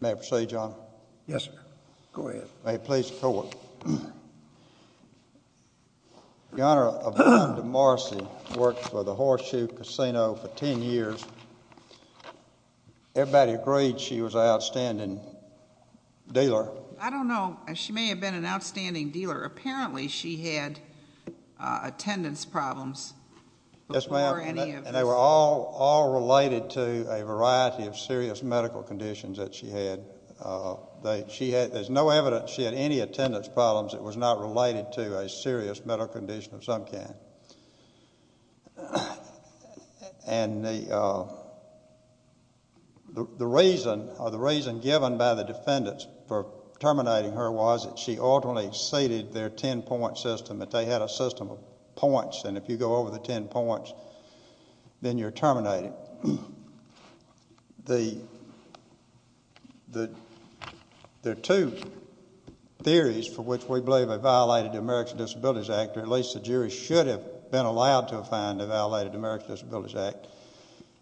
May I proceed, Your Honor? Yes, sir. Go ahead. May it please the Court? The Honor, Yvonne Demarce worked for the Horseshoe Casino for ten years. Everybody agreed she was an outstanding dealer. I don't know. She may have been an outstanding dealer. Apparently, she had attendance problems before any of this. Yes, ma'am. And they were all related to a variety of serious medical conditions that she had. There's no evidence she had any attendance problems that was not related to a serious medical condition of some kind. And the reason given by the defendants for terminating her was that she ultimately ceded their ten-point system, that they had a system of points, and if you go over the ten points, then you're terminated. There are two theories for which we believe they violated the American Disabilities Act, or at least the jury should have been allowed to find they violated the American Disabilities Act.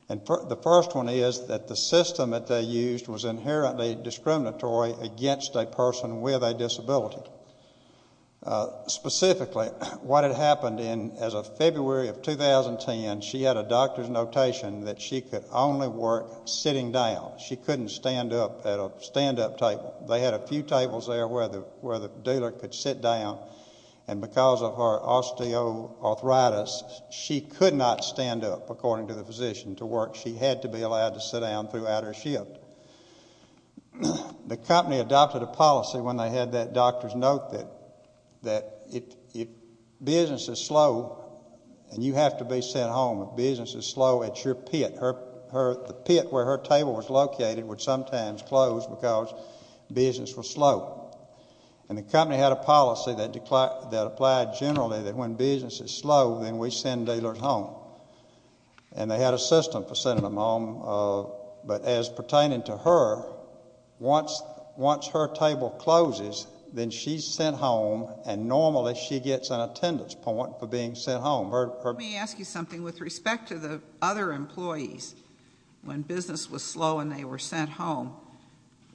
And the first one is that the system that they used was inherently discriminatory against a person with a disability. Specifically, what had happened in, as of February of 2010, she had a doctor's notation that she could only work sitting down. She couldn't stand up at a stand-up table. They had a few tables there where the dealer could sit down, and because of her osteoarthritis, she could not stand up, according to the physician, to work. She had to be allowed to sit down throughout her shift. The company adopted a policy when they had that doctor's note that if business is slow, and you have to be sent home if business is slow at your pit, the pit where her table was located would sometimes close because business was slow. And the company had a policy that applied generally that when business is slow, then we send dealers home. And they had a system for sending them home, but as pertaining to her, once her table closes, then she's sent home, and normally she gets an attendance point for being sent home. Let me ask you something with respect to the other employees. When business was slow and they were sent home,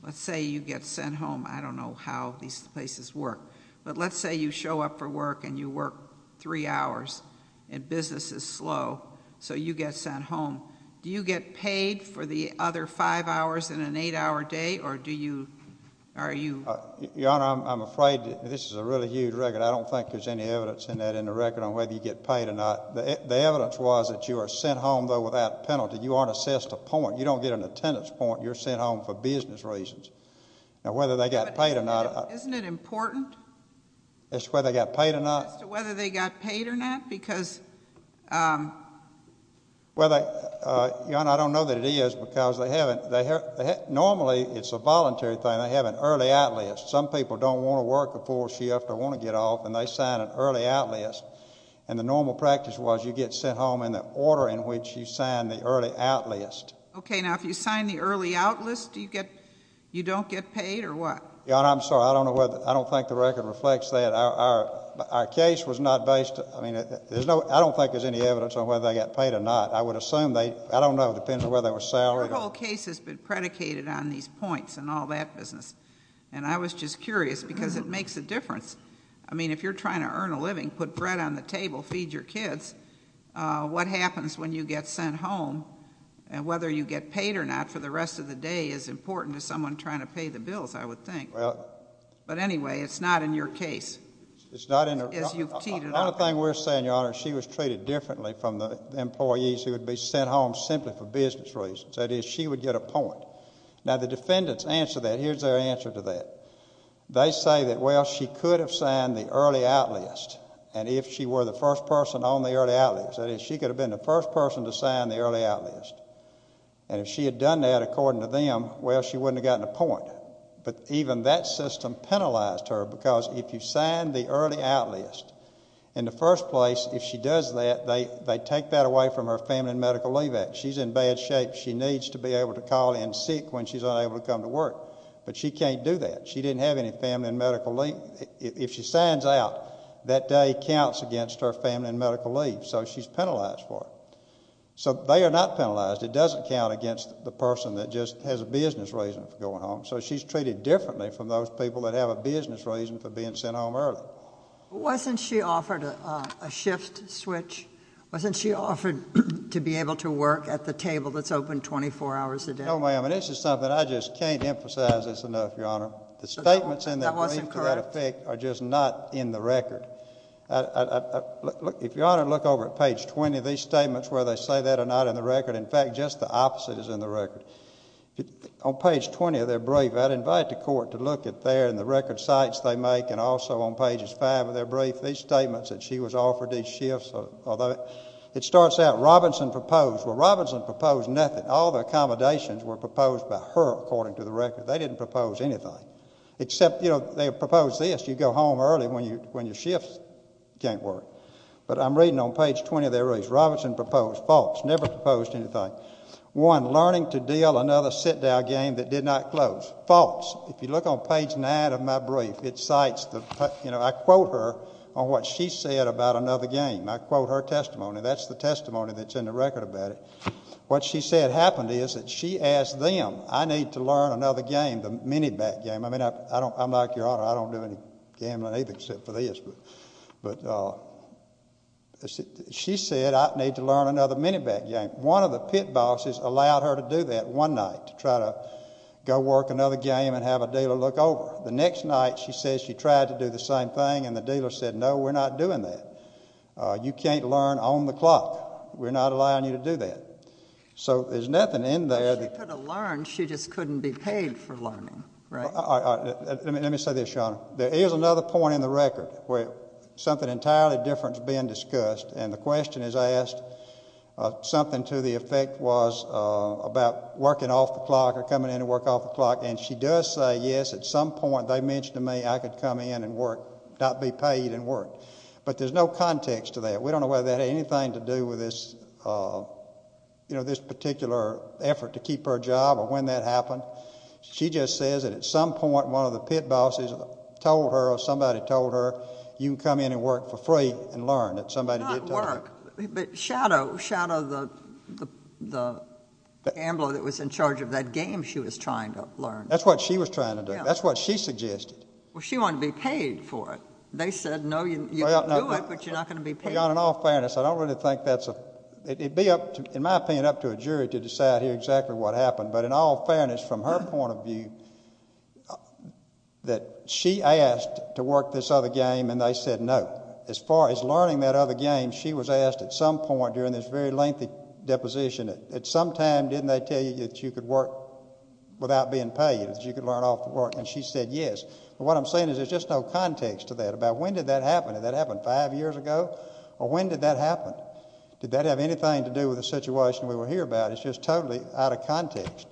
let's say you get sent home, I don't know how these places work, but let's say you show up for work and you work three hours, and business is slow, so you get sent home. Do you get paid for the other five hours in an eight-hour day, or do you, are you? Your Honor, I'm afraid this is a really huge record. I don't think there's any evidence in that in the record on whether you get paid or not. The evidence was that you are sent home, though, without penalty. You aren't assessed a point. You don't get an attendance point. You're sent home for business reasons. Now, whether they got paid or not, I It's whether they got paid or not? As to whether they got paid or not, because Well, Your Honor, I don't know that it is, because they haven't, normally it's a voluntary thing. They have an early out list. Some people don't want to work before she or after want to get off, and they sign an early out list, and the normal practice was you get sent home in the order in which you sign the early out list. Okay. Now, if you sign the early out list, do you get, you don't get paid, or what? Your Honor, I'm sorry. I don't know whether, I don't think the record reflects that. Our case was not based, I mean, there's no, I don't think there's any evidence on whether they got paid or not. I would assume they, I don't know. It depends on whether they were salaried or The whole case has been predicated on these points and all that business, and I was just curious, because it makes a difference. I mean, if you're trying to earn a living, put bread on the table, feed your kids, what happens when you get sent home, and whether you get paid or not for the rest of the day is important to someone trying to pay the bills, I would think. But anyway, it's not in your case, as you've teed it up. The other thing we're saying, Your Honor, is she was treated differently from the employees who would be sent home simply for business reasons. That is, she would get a point. Now, the defendants answer that. Here's their answer to that. They say that, well, she could have signed the early out list, and if she were the first person on the early out list, that is, she could have been the first person to sign the early out list, and if she had done that according to them, well, she wouldn't have gotten a point. But even that system penalized her, because if you sign the early out list, in the first place, if she does that, they take that away from her family and medical leave act. She's in bad shape. She needs to be able to call in sick when she's unable to come to work, but she can't do that. She didn't have any family and medical leave. If she signs out, that day counts against her family and medical leave, so she's penalized for it. So they are not penalized. It doesn't count against the person that just has a business reason for going home, so she's treated differently from those people that have a business reason for being sent home early. Wasn't she offered a shift switch? Wasn't she offered to be able to work at the table that's open 24 hours a day? No, ma'am, and this is something I just can't emphasize this enough, Your Honor. The statements in that brief, to that effect, are just not in the record. If Your Honor look over at page 20, these statements, whether they say that or not, are not in the record. In fact, just the opposite is in the record. On page 20 of their brief, I'd invite the Court to look at there and the record sites they make, and also on pages 5 of their brief, these statements that she was offered, these shifts, although it starts out, Robinson proposed. Well, Robinson proposed nothing. All the accommodations were proposed by her, according to the record. They didn't propose anything, except, you know, they proposed this. You go home early when your shifts can't work. But I'm reading on page 20 of their brief. Robinson proposed. False. Never proposed anything. One, learning to deal another sit-down game that did not close. False. If you look on page 9 of my brief, it cites the, you know, I quote her on what she said about another game. I quote her testimony. That's the testimony that's in the record about it. What she said happened is that she asked them, I need to learn another game, the mini-bat game. I mean, I'm like your Honor, I don't do any gambling, except for this. But she said, I need to learn another mini-bat game. One of the pit bosses allowed her to do that one night, to try to go work another game and have a dealer look over. The next night, she says she tried to do the same thing, and the dealer said, no, we're not doing that. You can't learn on the clock. We're not allowing you to do that. So there's nothing in there that... Let me tell you this, Your Honor. There is another point in the record where something entirely different is being discussed, and the question is asked, something to the effect was about working off the clock or coming in to work off the clock. And she does say, yes, at some point, they mentioned to me, I could come in and work, not be paid and work. But there's no context to that. We don't know whether that had anything to do with this, you know, this particular effort to keep her job or when that happened. She just says that at some point, one of the pit bosses told her or somebody told her, you can come in and work for free and learn, that somebody did tell her. Not work, but shadow the gambler that was in charge of that game she was trying to learn. That's what she was trying to do. That's what she suggested. Well, she wanted to be paid for it. They said, no, you can do it, but you're not going to be paid. Your Honor, in all fairness, I don't really think that's a... it would be, in my opinion, up to a jury to decide here exactly what happened. But in all fairness, from her point of view, that she asked to work this other game, and they said, no. As far as learning that other game, she was asked at some point during this very lengthy deposition, at some time, didn't they tell you that you could work without being paid, that you could learn off the clock? And she said, yes. But what I'm saying is, there's just no context to that about when did that happen. Did that happen five years ago? Or when did that happen? Did that have anything to do with the situation we were here about? It's just totally out of context.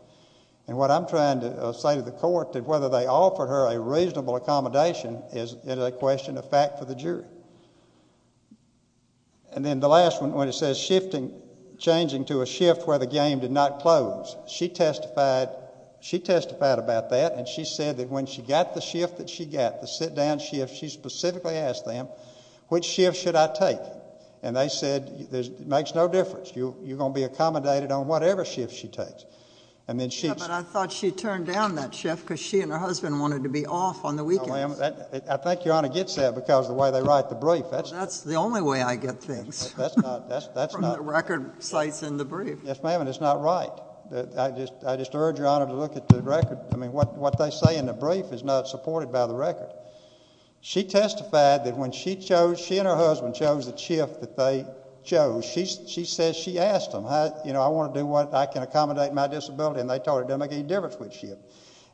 And what I'm trying to say to the Court, that whether they offered her a reasonable accommodation, is a question of fact for the jury. And then the last one, when it says shifting... changing to a shift where the game did not close, she testified... she testified about that, and she said that when she got the shift that she got, the sit-down shift, she specifically asked them, which shift should I take? And they said, it makes no difference. You're going to be accommodated on whatever shift she takes. And then she... But I thought she turned down that shift because she and her husband wanted to be off on the weekends. No, ma'am. I think Your Honor gets that because of the way they write the brief. That's the only way I get things. That's not... From the record sites in the brief. Yes, ma'am, and it's not right. I just urge Your Honor to look at the record. I mean, what they say in the brief is not supported by the record. She testified that when she chose... she and her husband chose the shift that they chose, she says she asked them, you know, I want to do what... I can accommodate my disability, and they told her it doesn't make any difference which shift.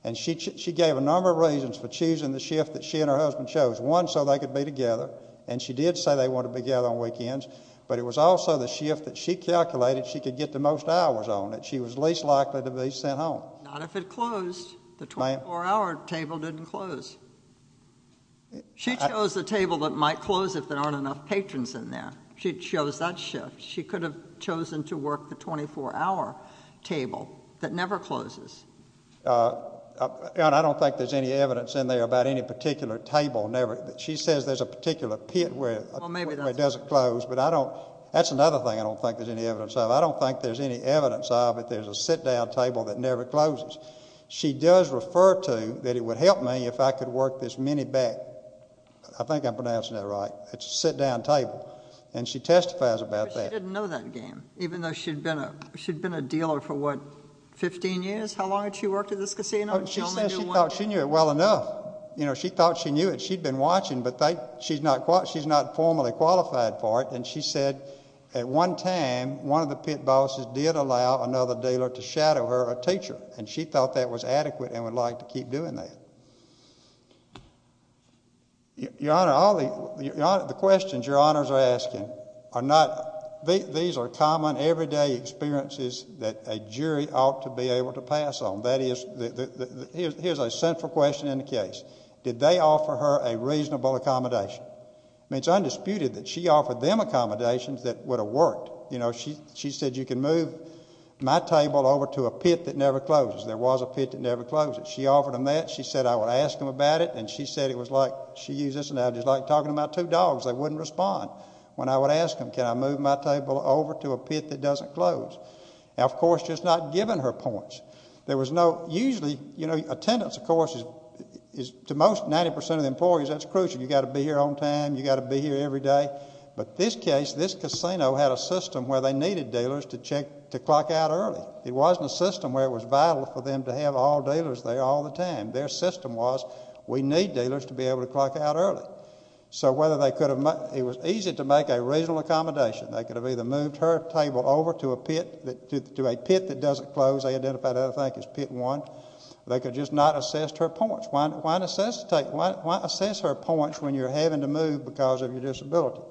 And she gave a number of reasons for choosing the shift that she and her husband chose. One, so they could be together, and she did say they wanted to be together on weekends, but it was also the shift that she calculated she could get the most hours on it. She was least likely to be sent home. Not if it closed. The 24-hour table didn't close. She chose the table that might close if there aren't enough patrons in there. She chose that shift. She could have chosen to work the 24-hour table that never closes. Your Honor, I don't think there's any evidence in there about any particular table never... she says there's a particular pit where it doesn't close, but I don't... that's another thing I don't think there's any evidence of. I don't think there's any evidence of if there's a sit-down table that never closes. She does refer to that it would help me if I could work this mini back... I think I'm pronouncing that right. It's a sit-down table, and she testifies about that. But she didn't know that game, even though she'd been a dealer for, what, 15 years? How long had she worked at this casino? She said she thought she knew it well enough. You know, she thought she knew it. She'd been watching, but she's not formally qualified for it, and she said at one time, one of the things she did was shadow her a teacher, and she thought that was adequate and would like to keep doing that. Your Honor, all the questions your Honors are asking are not... these are common everyday experiences that a jury ought to be able to pass on. That is... here's a central question in the case. Did they offer her a reasonable accommodation? I mean, it's undisputed that she offered them accommodations that would have worked. You know, she said you can move my table over to a pit that never closes. There was a pit that never closed. She offered them that. She said I would ask them about it, and she said it was like... she used this analogy. It's like talking about two dogs. They wouldn't respond when I would ask them, can I move my table over to a pit that doesn't close? Now, of course, she's not given her points. There was no... usually, you know, attendance, of course, is... to most, 90 percent of the employees, that's crucial. You've got to be here on time. You've got to be here every day. But this case, this casino had a system where they needed dealers to check... to clock out early. It wasn't a system where it was vital for them to have all dealers there all the time. Their system was we need dealers to be able to clock out early. So whether they could have... it was easy to make a reasonable accommodation. They could have either moved her table over to a pit... to a pit that doesn't close. They identified the other thing as pit one. They could just not assess her points. Why... why assess her points when you're having to move because of your disability?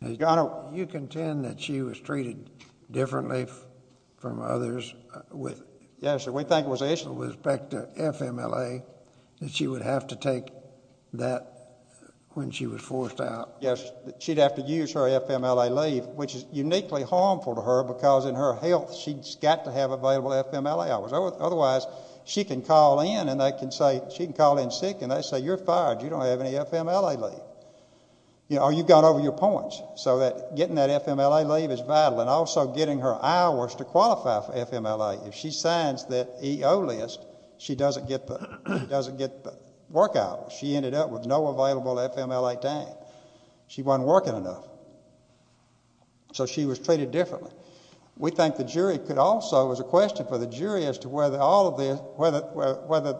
Now, Governor, you contend that she was treated differently from others with... Yes, sir. We think it was the issue with respect to FMLA that she would have to take that when she was forced out. Yes. She'd have to use her FMLA leave, which is uniquely harmful to her because in her health, she's got to have available FMLA hours. Otherwise, she can call in and they can say... she can call in sick and they say you're fired. You don't have any FMLA leave. Or you've gone over your points. So that getting that FMLA leave is vital and also getting her hours to qualify for FMLA. If she signs that EO list, she doesn't get the... doesn't get the work hours. She ended up with no available FMLA time. She wasn't working enough. So she was treated differently. We think the jury could also... it was a question for the jury as to whether all of this... whether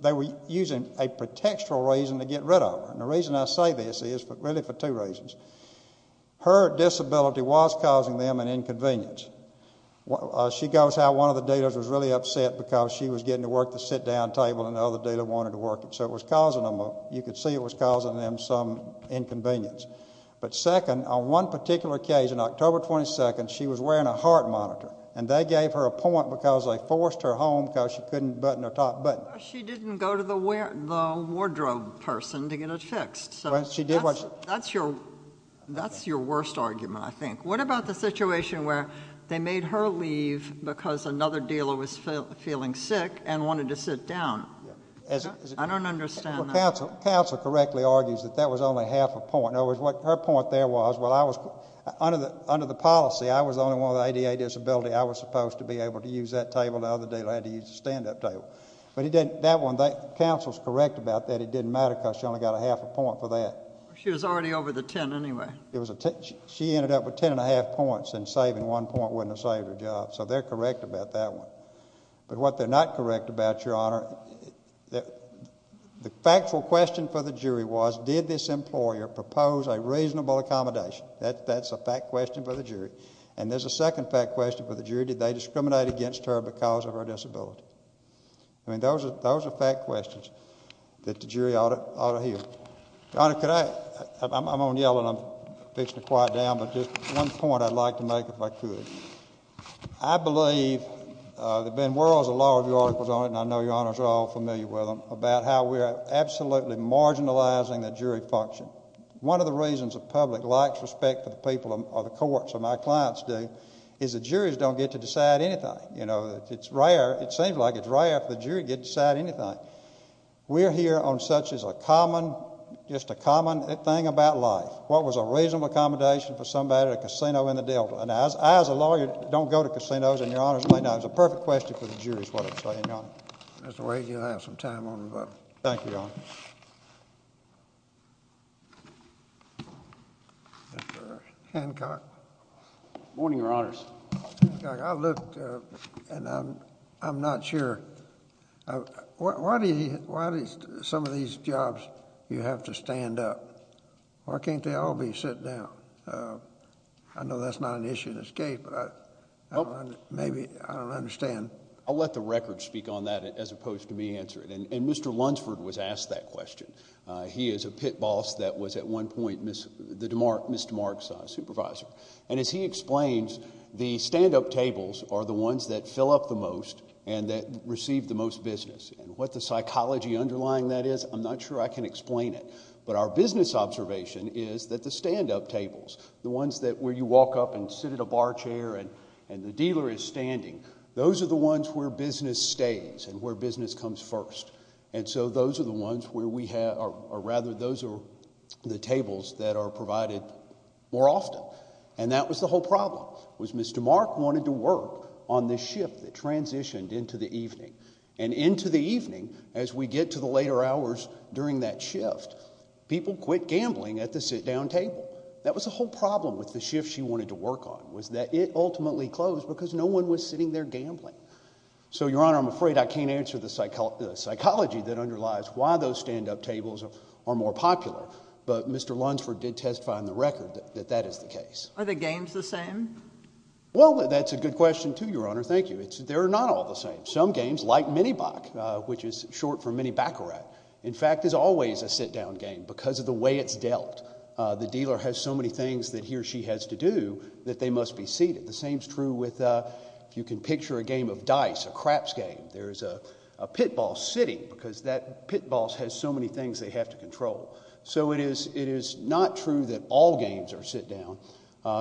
they were using a pretextual reason to get rid of her. And the reason I say this is really for two reasons. Her disability was causing them an inconvenience. She goes how one of the dealers was really upset because she was getting to work the sit-down table and the other dealer wanted to work it. So it was causing them... you could see it was causing them some inconvenience. But second, on one particular occasion, October 22nd, she was wearing a heart monitor. And they gave her a point because they forced her home because she couldn't button her top button. She didn't go to the wardrobe person to get it fixed. She did what... That's your worst argument, I think. What about the situation where they made her leave because another dealer was feeling sick and wanted to sit down? I don't understand that. Counsel correctly argues that that was only half a point. In other words, what her point there was, well, I was... under the policy, I was the only one with an ADA disability. I was supposed to be able to use that table. The other dealer had to use the stand-up table. But he didn't... that one, the counsel's correct about that. It didn't matter because she only got a half a point for that. She was already over the ten anyway. She ended up with ten and a half points and saving one point wouldn't have saved her job. So they're correct about that one. But what they're not correct about, Your Honor, the factual question for the jury was, did this employer propose a reasonable accommodation? That's a fact question for the jury. And there's a second fact question for the jury. Did they discriminate against her because of her disability? I mean, those are fact questions that the jury ought to hear. Your Honor, could I... I'm only yelling. I'm fixing to quiet down. But just one point I'd like to make, if I could. I believe there have been worlds of law review articles on it, and I know Your Honors are all familiar with them, about how we are absolutely marginalizing the jury function. One of the reasons the public likes respect for the people or the courts, or my clients do, is the juries don't get to decide anything. You know, it's rare, it seems like it's rare for the jury to get to decide anything. We're here on such as a common, just a common thing about life. What was a reasonable accommodation for somebody at a casino in the Delta? And I, as a lawyer, don't go to casinos, and Your Honors may know it's a perfect question for the jury, is what I'm saying, Your Honor. Mr. Wade, you'll have some time on that. Thank you, Your Honor. Thank you, Your Honor. Mr. Hancock. Good morning, Your Honors. Mr. Hancock, I looked, and I'm not sure. Why do some of these jobs, you have to stand up? Why can't they all be sitting down? I know that's not an issue in this case, but I don't understand. I'll let the record speak on that, as opposed to me answering it. And Mr. Lunsford was asked that question. He is a pit boss that was, at one point, Mr. Mark's supervisor. And as he explains, the stand-up tables are the ones that fill up the most, and that receive the most business. And what the psychology underlying that is, I'm not sure I can explain it. But our business observation is that the stand-up tables, the ones where you walk up and sit a bar chair and the dealer is standing, those are the ones where business stays and where business comes first. And so those are the ones where we have, or rather, those are the tables that are provided more often. And that was the whole problem, was Mr. Mark wanted to work on this shift that transitioned into the evening. And into the evening, as we get to the later hours during that shift, people quit gambling at the sit-down table. That was the whole problem with the shift she wanted to work on, was that it ultimately closed because no one was sitting there gambling. So, Your Honor, I'm afraid I can't answer the psychology that underlies why those stand-up tables are more popular. But Mr. Lunsford did testify on the record that that is the case. Are the games the same? Well, that's a good question, too, Your Honor. Thank you. They're not all the same. Some games, like mini-bac, which is short for mini-baccarat, in fact, is always a sit-down game because of the way it's dealt. The dealer has so many things that he or she has to do that they must be seated. The same is true with, if you can picture a game of dice, a craps game. There's a pit ball sitting because that pit ball has so many things they have to control. So it is not true that all games are sit-down.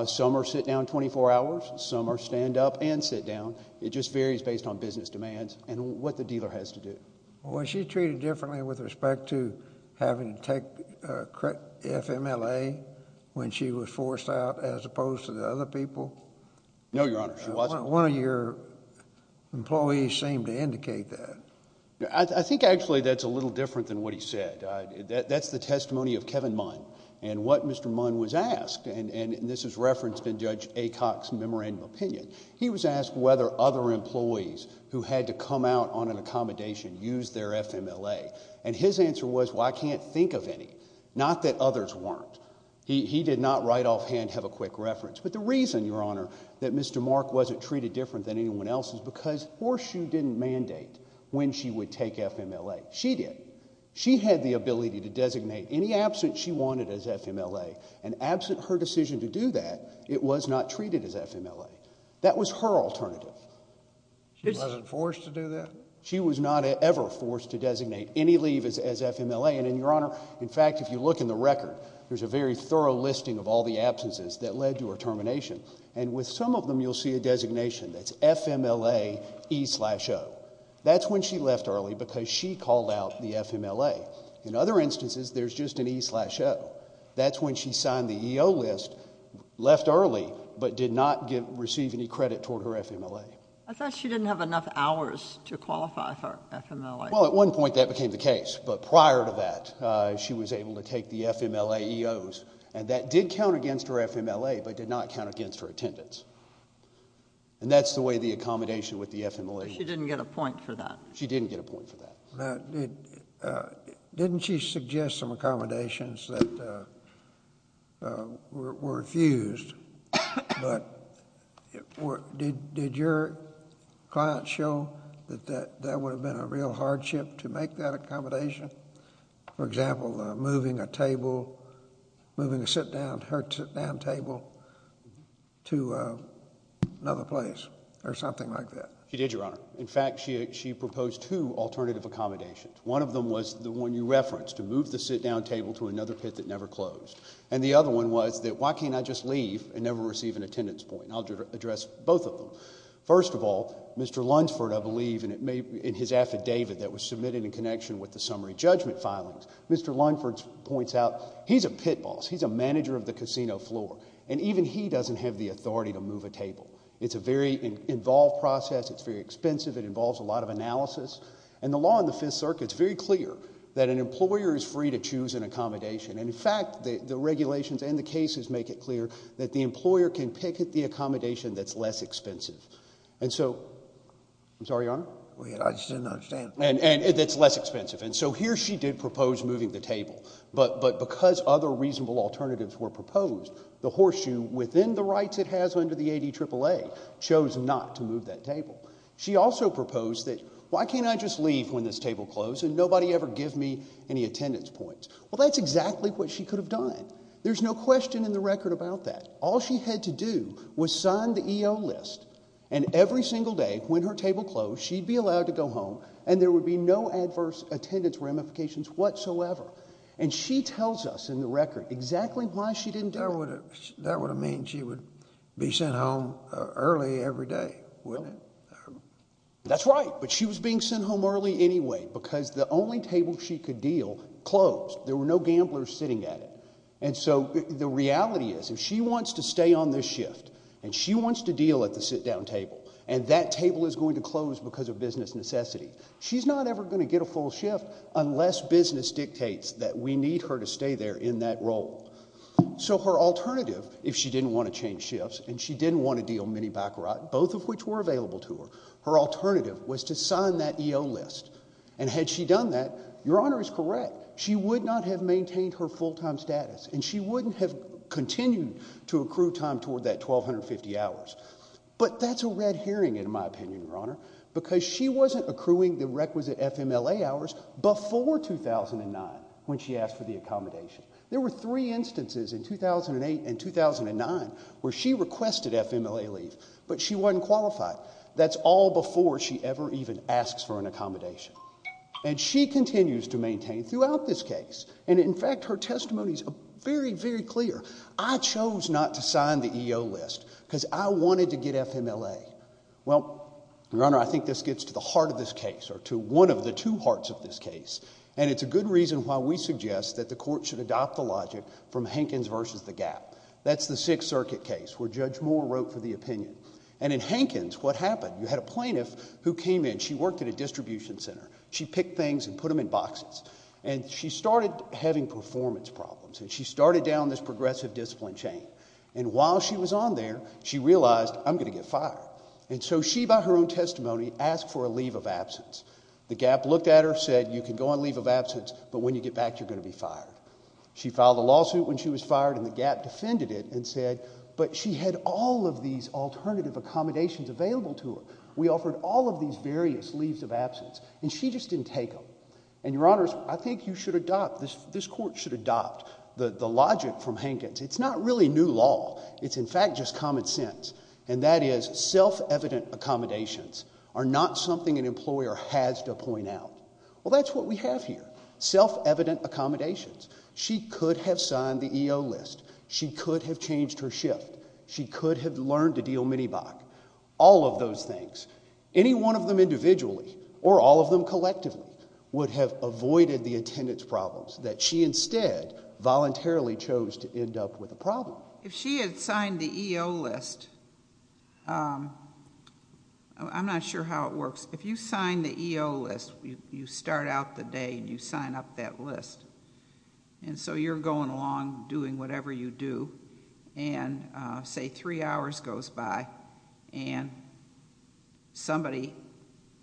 Some are sit-down 24 hours. Some are stand-up and sit-down. It just varies based on business demands and what the dealer has to do. Was she treated differently with respect to having to take FMLA when she was forced out as opposed to the other people? No, Your Honor, she wasn't. One of your employees seemed to indicate that. I think actually that's a little different than what he said. That's the testimony of Kevin Munn and what Mr. Munn was asked, and this is referenced in Judge Acock's memorandum of opinion, he was asked whether other employees who had to come out on an accommodation used their FMLA. And his answer was, well, I can't think of any. Not that others weren't. He did not right offhand have a quick reference. But the reason, Your Honor, that Mr. Mark wasn't treated different than anyone else is because Horseshoe didn't mandate when she would take FMLA. She did. She had the ability to designate any absent she wanted as FMLA. And absent her decision to do that, it was not treated as FMLA. That was her alternative. She wasn't forced to do that? She was not ever forced to designate any leave as FMLA. And Your Honor, in fact, if you look in the record, there's a very thorough listing of all the absences that led to her termination. And with some of them, you'll see a designation that's FMLA E slash O. That's when she left early because she called out the FMLA. In other instances, there's just an E slash O. That's when she signed the EO list, left early, but did not receive any credit toward her FMLA. I thought she didn't have enough hours to qualify for FMLA. Well, at one point that became the case. But prior to that, she was able to take the FMLA EOs. And that did count against her FMLA, but did not count against her attendance. And that's the way the accommodation with the FMLA. She didn't get a point for that. She didn't get a point for that. Now, didn't she suggest some accommodations that were refused? But did your client show that that would have been a real hardship to make that accommodation? For example, moving a table, moving a sit down, her sit down table to another place or something like that? She did, Your Honor. In fact, she proposed two alternative accommodations. One of them was the one you referenced to move the sit down table to another pit that never closed. And the other one was that why can't I just leave and never receive an attendance point? I'll address both of them. First of all, Mr. Lunsford, I believe in his affidavit that was submitted in connection with the summary judgment filings, Mr. Lunsford points out he's a pit boss. He's a manager of the casino floor. And even he doesn't have the authority to move a table. It's a very involved process. It's very expensive. It involves a lot of analysis. And the law in the Fifth Circuit is very clear that an employer is free to choose an accommodation. And in fact, the regulations and the cases make it clear that the employer can pick the accommodation that's less expensive. And so, I'm sorry, Your Honor? I just didn't understand. And it's less expensive. And so here she did propose moving the table. But because other reasonable alternatives were proposed, the horseshoe within the rights it has under the ADAAA chose not to move that table. She also proposed that, why can't I just leave when this table closed and nobody ever give me any attendance points? Well, that's exactly what she could have done. There's no question in the record about that. All she had to do was sign the EO list. And every single day when her table closed, she'd be allowed to go home and there would be no adverse attendance ramifications whatsoever. And she tells us in the record exactly why she didn't do it. That would have meant she would be sent home early every day, wouldn't it? That's right. But she was being sent home early anyway, because the only table she could deal closed. There were no gamblers sitting at it. And so the reality is, if she wants to stay on this shift and she wants to deal at the sit-down table and that table is going to close because of business necessity, she's not ever going to get a full shift unless business dictates that we need her to stay there in that role. So her alternative, if she didn't want to change shifts and she didn't want to deal mini-bike ride, both of which were available to her, her alternative was to sign that EO list. And had she done that, Your Honor is correct, she would not have maintained her full time status and she wouldn't have continued to accrue time toward that 1,250 hours. But that's a red herring, in my opinion, Your Honor, because she wasn't accruing the requisite FMLA hours before 2009 when she asked for the accommodation. There were three instances in 2008 and 2009 where she requested FMLA leave, but she wasn't qualified. That's all before she ever even asks for an accommodation. And she continues to maintain throughout this case, and in fact, her testimony is very, very clear. I chose not to sign the EO list because I wanted to get FMLA. Well, Your Honor, I think this gets to the heart of this case or to one of the two hearts of this case. And it's a good reason why we suggest that the court should adopt the logic from Hankins versus the Gap. That's the Sixth Circuit case where Judge Moore wrote for the opinion. And in Hankins, what happened? You had a plaintiff who came in, she worked at a distribution center. She picked things and put them in boxes. And she started having performance problems and she started down this progressive discipline chain. And while she was on there, she realized, I'm going to get fired. The Gap looked at her, said, you can go on leave of absence, but when you get back, you're going to be fired. She filed a lawsuit when she was fired and the Gap defended it and said, but she had all of these alternative accommodations available to her. We offered all of these various leaves of absence and she just didn't take them. And, Your Honors, I think you should adopt, this court should adopt the logic from Hankins. It's not really new law. It's, in fact, just common sense. And that is self-evident accommodations are not something an employer has to point out. Well, that's what we have here. Self-evident accommodations. She could have signed the EO list. She could have changed her shift. She could have learned to deal mini-BAC, all of those things. Any one of them individually or all of them collectively would have avoided the attendance problems that she instead voluntarily chose to end up with a problem. If she had signed the EO list, I'm not sure how it works. If you sign the EO list, you start out the day and you sign up that list. And so you're going along doing whatever you do and say three hours goes by and somebody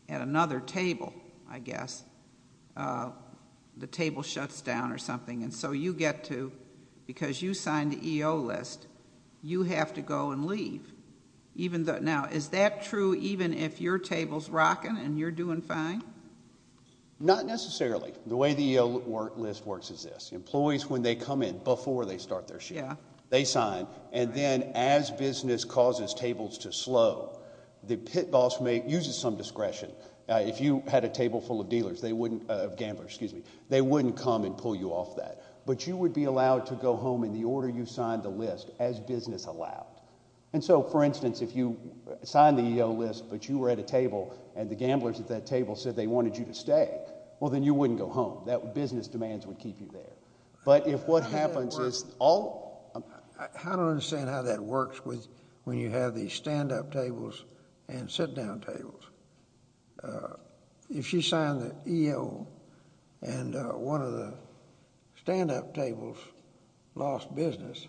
at another table, I guess, the table shuts down or something. And so you get to, because you signed the EO list, you have to go and leave. Now, is that true even if your table's rocking and you're doing fine? Not necessarily. The way the EO list works is this. Employees, when they come in, before they start their shift, they sign. And then as business causes tables to slow, the pit boss may use some discretion. If you had a table full of dealers, they wouldn't, of gamblers, excuse me, they wouldn't come and pull you off that. But you would be allowed to go home in the order you signed the list as business allowed. And so, for instance, if you signed the EO list, but you were at a table and the gamblers at that table said they wanted you to stay, well, then you wouldn't go home. That business demands would keep you there. But if what happens is all. I don't understand how that works with when you have these stand up tables and sit down tables. If she signed the EO and one of the stand up tables lost business.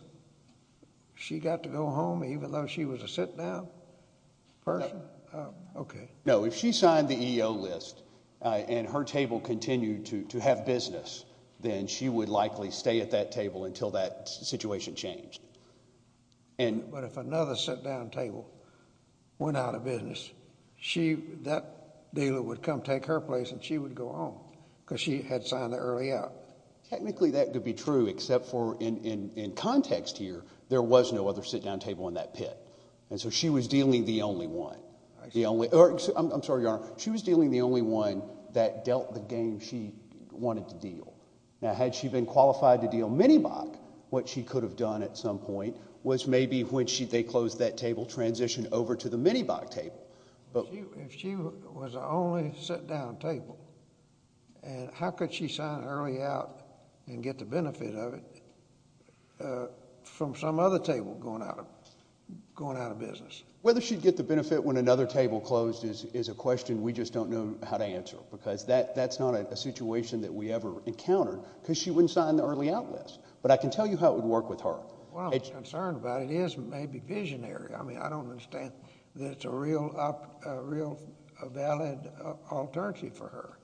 She got to go home, even though she was a sit down person. OK. No, if she signed the EO list and her table continued to to have business, then she would likely stay at that table until that situation changed. And but if another sit down table went out of business, she that dealer would come take her place and she would go home because she had signed the early out. Technically, that could be true, except for in context here, there was no other sit down table in that pit. And so she was dealing the only one. The only I'm sorry. She was dealing the only one that dealt the game. She wanted to deal. Now, had she been qualified to deal many back, what she could have done at some point was maybe when they closed that table transition over to the many back table. But if she was the only sit down table and how could she sign early out and get the benefit of it from some other table going out of going out of business? Whether she'd get the benefit when another table closed is is a question we just don't know how to answer, because that that's not a situation that we ever encountered because she wouldn't sign the early out list. But I can tell you how it would work with her. Well, it's concerned about it is maybe visionary. I mean, I don't understand that it's a real, real valid alternative for her.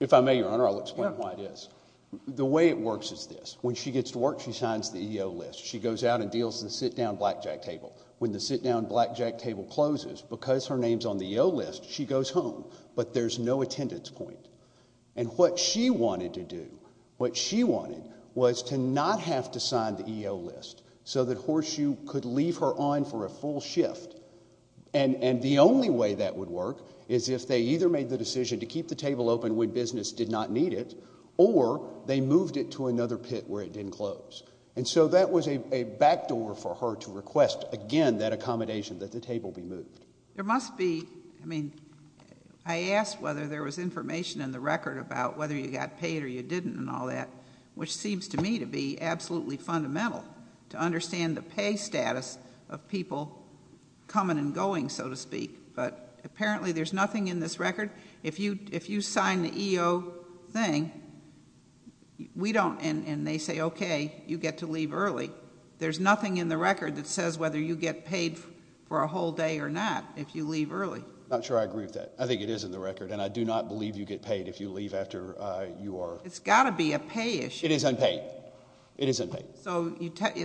If I may, your honor, I'll explain why it is the way it works is this. When she gets to work, she signs the EO list. She goes out and deals the sit down blackjack table. When the sit down blackjack table closes because her name's on the list, she goes home, but there's no attendance point. And what she wanted to do, what she wanted was to not have to sign the EO list so that Horseshoe could leave her on for a full shift. And the only way that would work is if they either made the decision to keep the table open when business did not need it or they moved it to another pit where it didn't close. And so that was a backdoor for her to request again that accommodation, that the table be moved. There must be, I mean, I asked whether there was information in the record about whether you got paid or you didn't and all that, which seems to me to be absolutely fundamental to understand the pay status of people coming and going, so to speak. But apparently there's nothing in this record. If you sign the EO thing, we don't, and they say, okay, you get to leave early, there's nothing in the record that says whether you get paid for a whole day or not if you leave early. Not sure I agree with that. I think it is in the record. And I do not believe you get paid if you leave after you are. It's got to be a pay issue. It is unpaid. It is unpaid. So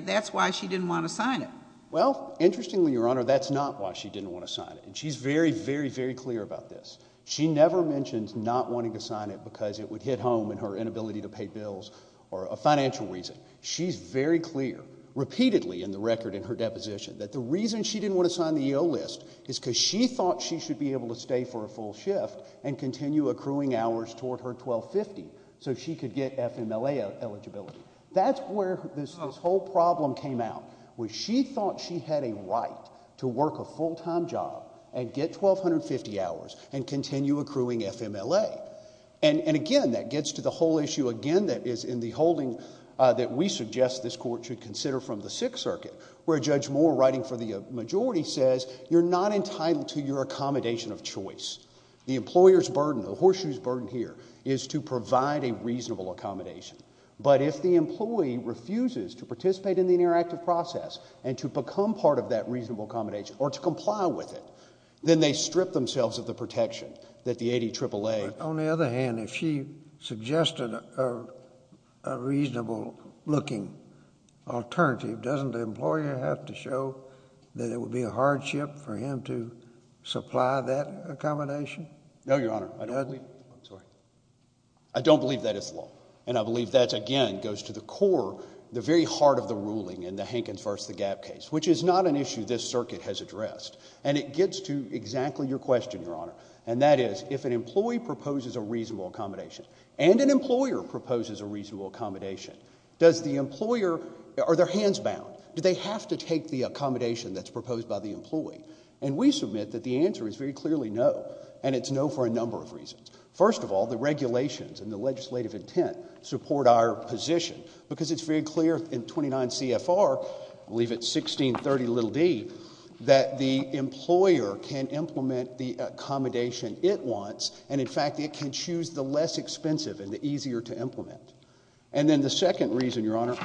that's why she didn't want to sign it. Well, interestingly, Your Honor, that's not why she didn't want to sign it. And she's very, very, very clear about this. She never mentions not wanting to sign it because it would hit home in her inability to pay bills or a financial reason. She's very clear, repeatedly in the record in her deposition, that the reason she didn't want to sign the EO list is because she thought she should be able to stay for a full shift and continue accruing hours toward her 1250 so she could get FMLA eligibility. That's where this whole problem came out, where she thought she had a right to work a full time job and get 1250 hours and continue accruing FMLA. And again, that gets to the whole issue again that is in the holding that we suggest this court should consider from the Sixth Circuit, where Judge Moore, writing for the majority, says you're not entitled to your accommodation of choice. The employer's burden, the horseshoe's burden here is to provide a reasonable accommodation. But if the employee refuses to participate in the interactive process and to become part of that reasonable accommodation or to comply with it, then they strip themselves of the protection that the 80 AAA. On the other hand, if she suggested a reasonable looking alternative, doesn't the employer have to show that it would be a hardship for him to supply that accommodation? No, Your Honor. I don't believe that is law. And I believe that again goes to the core, the very heart of the ruling in the Hankins versus the Gap case, which is not an issue this circuit has addressed. And it gets to exactly your question, Your Honor. And that is, if an employee proposes a reasonable accommodation and an employer proposes a reasonable accommodation, does the employer, are their hands bound? Do they have to take the accommodation that's proposed by the employee? And we submit that the answer is very clearly no. And it's no for a number of reasons. First of all, the regulations and the legislative intent support our position because it's very clear in 29 CFR, I believe it's 1630 little D, that the employer can implement the accommodation it wants. And in fact, it can choose the less expensive and the easier to implement. And then the second reason, Your Honor,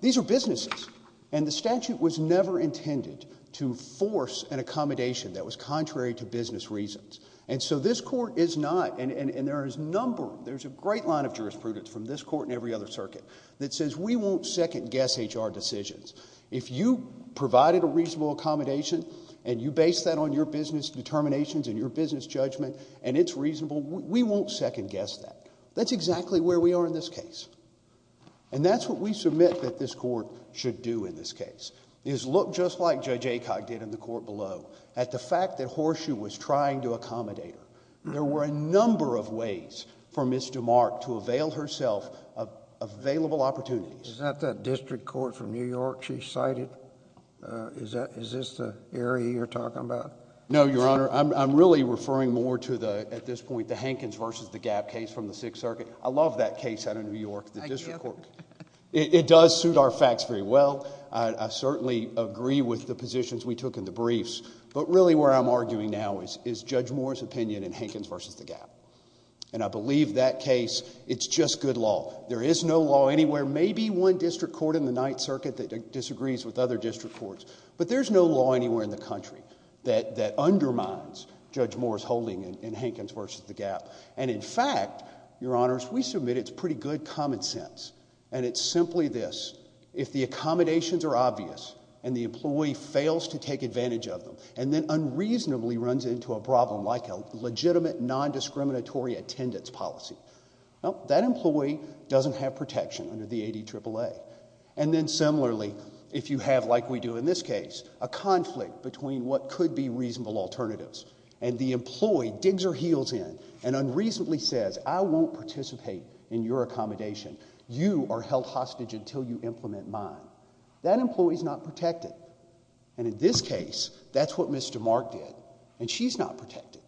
these are businesses. And the statute was never intended to force an accommodation that was contrary to business reasons. And so this court is not, and there is a number, there's a great line of jurisprudence from this court and every other circuit that says we won't second guess HR decisions. If you provided a reasonable accommodation and you base that on your business determinations and your business judgment and it's reasonable, we won't second guess that. That's exactly where we are in this case. And that's what we submit that this court should do in this case, is look just like Judge Acock did in the court below, at the fact that Horseshoe was trying to accommodate her. There were a number of ways for Ms. DeMarc to avail herself of available opportunities. Is that that district court from New York she cited? Is that, is this the area you're talking about? No, Your Honor. I'm really referring more to the, at this point, the Hankins versus the Gap case from the Sixth Circuit. I love that case out of New York. The district court, it does suit our facts very well. I certainly agree with the positions we took in the briefs, but really where I'm arguing now is Judge Moore's opinion in Hankins versus the Gap. And I believe that case, it's just good law. There is no law anywhere, maybe one district court in the Ninth Circuit that disagrees with other district courts, but there's no law anywhere in the country that undermines Judge Moore's holding in Hankins versus the Gap. And in fact, Your Honors, we submit it's pretty good common sense. And it's simply this, if the accommodations are obvious and the employee fails to take advantage of them and then unreasonably runs into a problem like a legitimate, non-discriminatory attendance policy, well, that employee doesn't have protection under the ADAAA. And then similarly, if you have, like we do in this case, a conflict between what could be reasonable alternatives and the employee digs her heels in and unreasonably says, I won't participate in your accommodation, you are held hostage until you implement mine, that employee's not protected. And in this case, that's what Mr. Mark did, and she's not protected.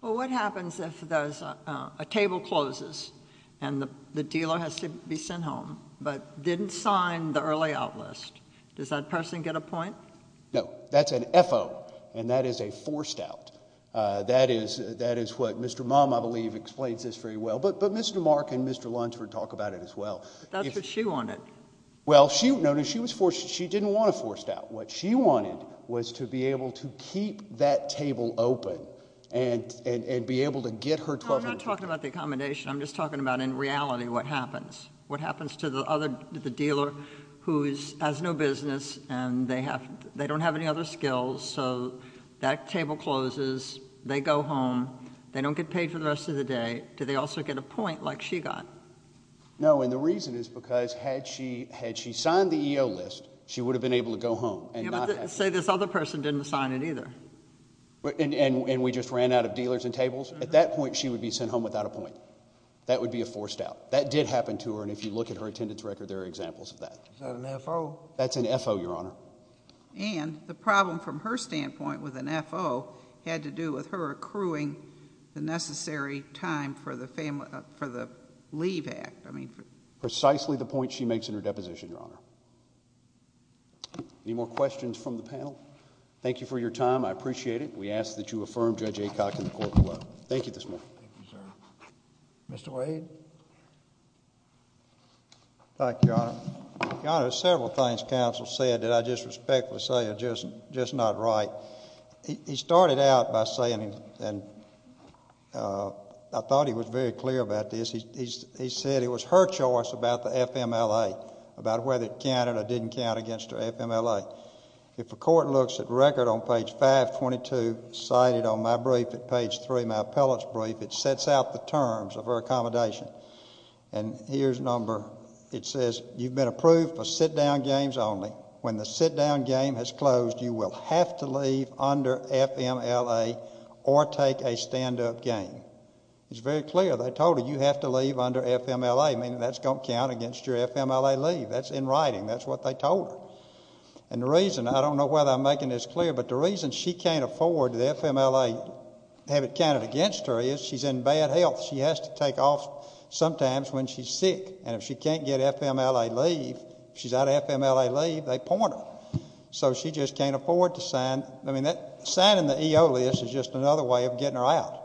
Well, what happens if there's a table closes and the dealer has to be sent home but didn't sign the early out list? Does that person get a point? No, that's an FO and that is a forced out. That is that is what Mr. Mom, I believe, explains this very well. But but Mr. Mark and Mr. Lunsford talk about it as well. That's what she wanted. Well, she noticed she was forced. She didn't want a forced out. What she wanted was to be able to keep that table open and and be able to get her talking about the accommodation. I'm just talking about in reality what happens, what happens to the other dealer who has no business and they have they don't have any other skills. So that table closes, they go home, they don't get paid for the rest of the day. Do they also get a point like she got? No, and the reason is because had she had she signed the list, she would have been able to go home and say this other person didn't sign it either. And we just ran out of dealers and tables. At that point, she would be sent home without a point. That would be a forced out. That did happen to her. And if you look at her attendance record, there are examples of that. So that's an FO, Your Honor. And the problem from her standpoint with an FO had to do with her accruing the necessary time for the family, for the leave act. I mean, precisely the point she makes in her deposition, Your Honor. Any more questions from the panel? Thank you for your time. I appreciate it. We ask that you affirm Judge Acock in the court below. Mr. Wade. Thank you, Your Honor. Your Honor, several things counsel said that I just respectfully say are just not right. He started out by saying, and I thought he was very clear about this, he said it was her choice about the FMLA, about whether it counted or didn't count against her FMLA. If a court looks at record on page 522 cited on my brief at page three, my appellate's brief, it sets out the terms of her accommodation. And here's number, it says, you've been approved for sit-down games only. When the sit-down game has closed, you will have to leave under FMLA or take a stand-up game. It's very clear. They told her you have to leave under FMLA, meaning that's going to count against your FMLA leave. That's in writing. That's what they told her. And the reason, I don't know whether I'm making this clear, but the reason she can't afford the FMLA, have it counted against her is she's in bad health. She has to take off sometimes when she's sick, and if she can't get FMLA leave, if she's out of FMLA leave, they point her. So she just can't afford to sign, I mean, signing the EO list is just another way of getting her out,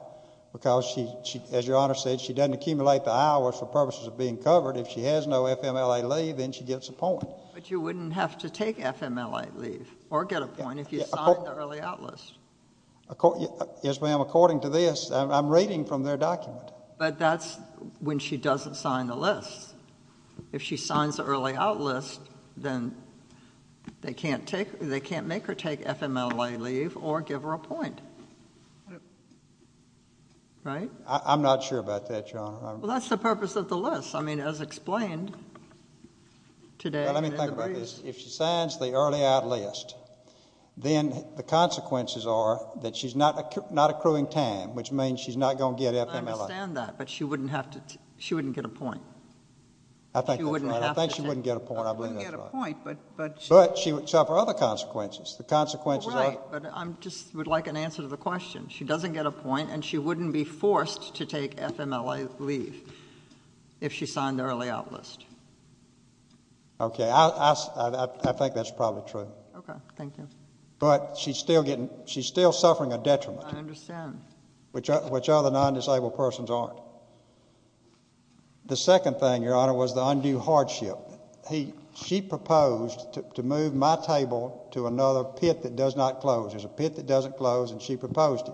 because she, as your Honor said, she doesn't accumulate the hours for purposes of being covered. If she has no FMLA leave, then she gets a point. But you wouldn't have to take FMLA leave or get a point if you signed the early out list. Yes, ma'am, according to this, I'm reading from their document. But that's when she doesn't sign the list. If she signs the early out list, then they can't take, they can't make her take FMLA leave or give her a point. Right. I'm not sure about that, Your Honor. Well, that's the purpose of the list. I mean, as explained today. Let me think about this. If she signs the early out list, then the consequences are that she's not accruing time, which means she's not going to get FMLA. I understand that, but she wouldn't have to, she wouldn't get a point. I think that's right. I think she wouldn't get a point. I believe that's right. She wouldn't get a point, but. But she would suffer other consequences. The consequences are. Right, but I just would like an answer to the question. She doesn't get a point, and she wouldn't be forced to take FMLA leave if she signed the early out list. Okay, I think that's probably true, but she's still getting, she's still suffering a detriment, which other non-disabled persons aren't. The second thing, Your Honor, was the undue hardship. He, she proposed to move my table to another pit that does not close. There's a pit that doesn't close, and she proposed it.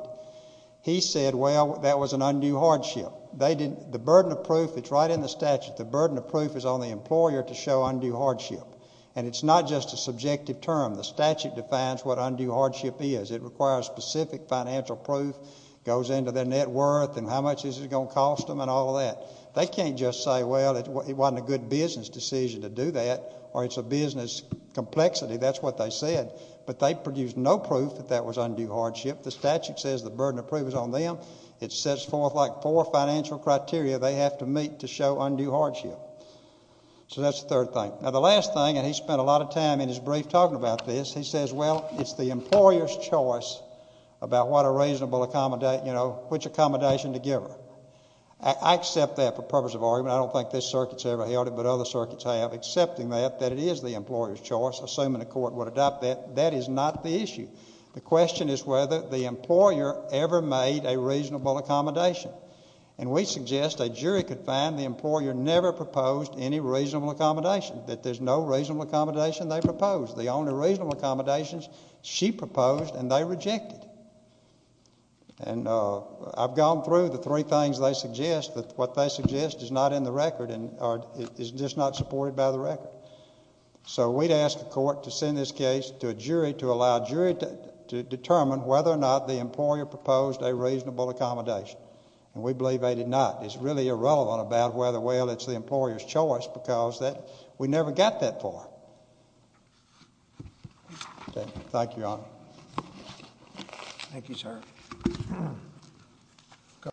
He said, well, that was an undue hardship. They didn't, the burden of proof, it's right in the statute. The burden of proof is on the employer to show undue hardship, and it's not just a subjective term. The statute defines what undue hardship is. It requires specific financial proof, goes into their net worth, and how much is it going to cost them, and all of that. They can't just say, well, it wasn't a good business decision to do that, or it's a business complexity. That's what they said, but they produced no proof that that was undue hardship. The statute says the burden of proof is on them. It sets forth like four financial criteria they have to meet to show undue hardship. So that's the third thing. Now, the last thing, and he spent a lot of time in his brief talking about this. He says, well, it's the employer's choice about what a reasonable accommodate, you know, which accommodation to give her. I accept that for purpose of argument. I don't think this circuit's ever held it, but other circuits have, accepting that, that it is the employer's choice, assuming the court would adopt that. That is not the issue. The question is whether the employer ever made a reasonable accommodation. And we suggest a jury could find the employer never proposed any reasonable accommodation, that there's no reasonable accommodation they proposed. The only reasonable accommodations she proposed and they rejected. And I've gone through the three things they suggest, but what they suggest is not in the record, or is just not supported by the record. So we'd ask the court to send this case to a jury to allow a jury to determine whether or not the employer proposed a reasonable accommodation. And we believe they did not. It's really irrelevant about whether, well, it's the employer's choice because that we never got that far. Thank you, Your Honor. Thank you, sir.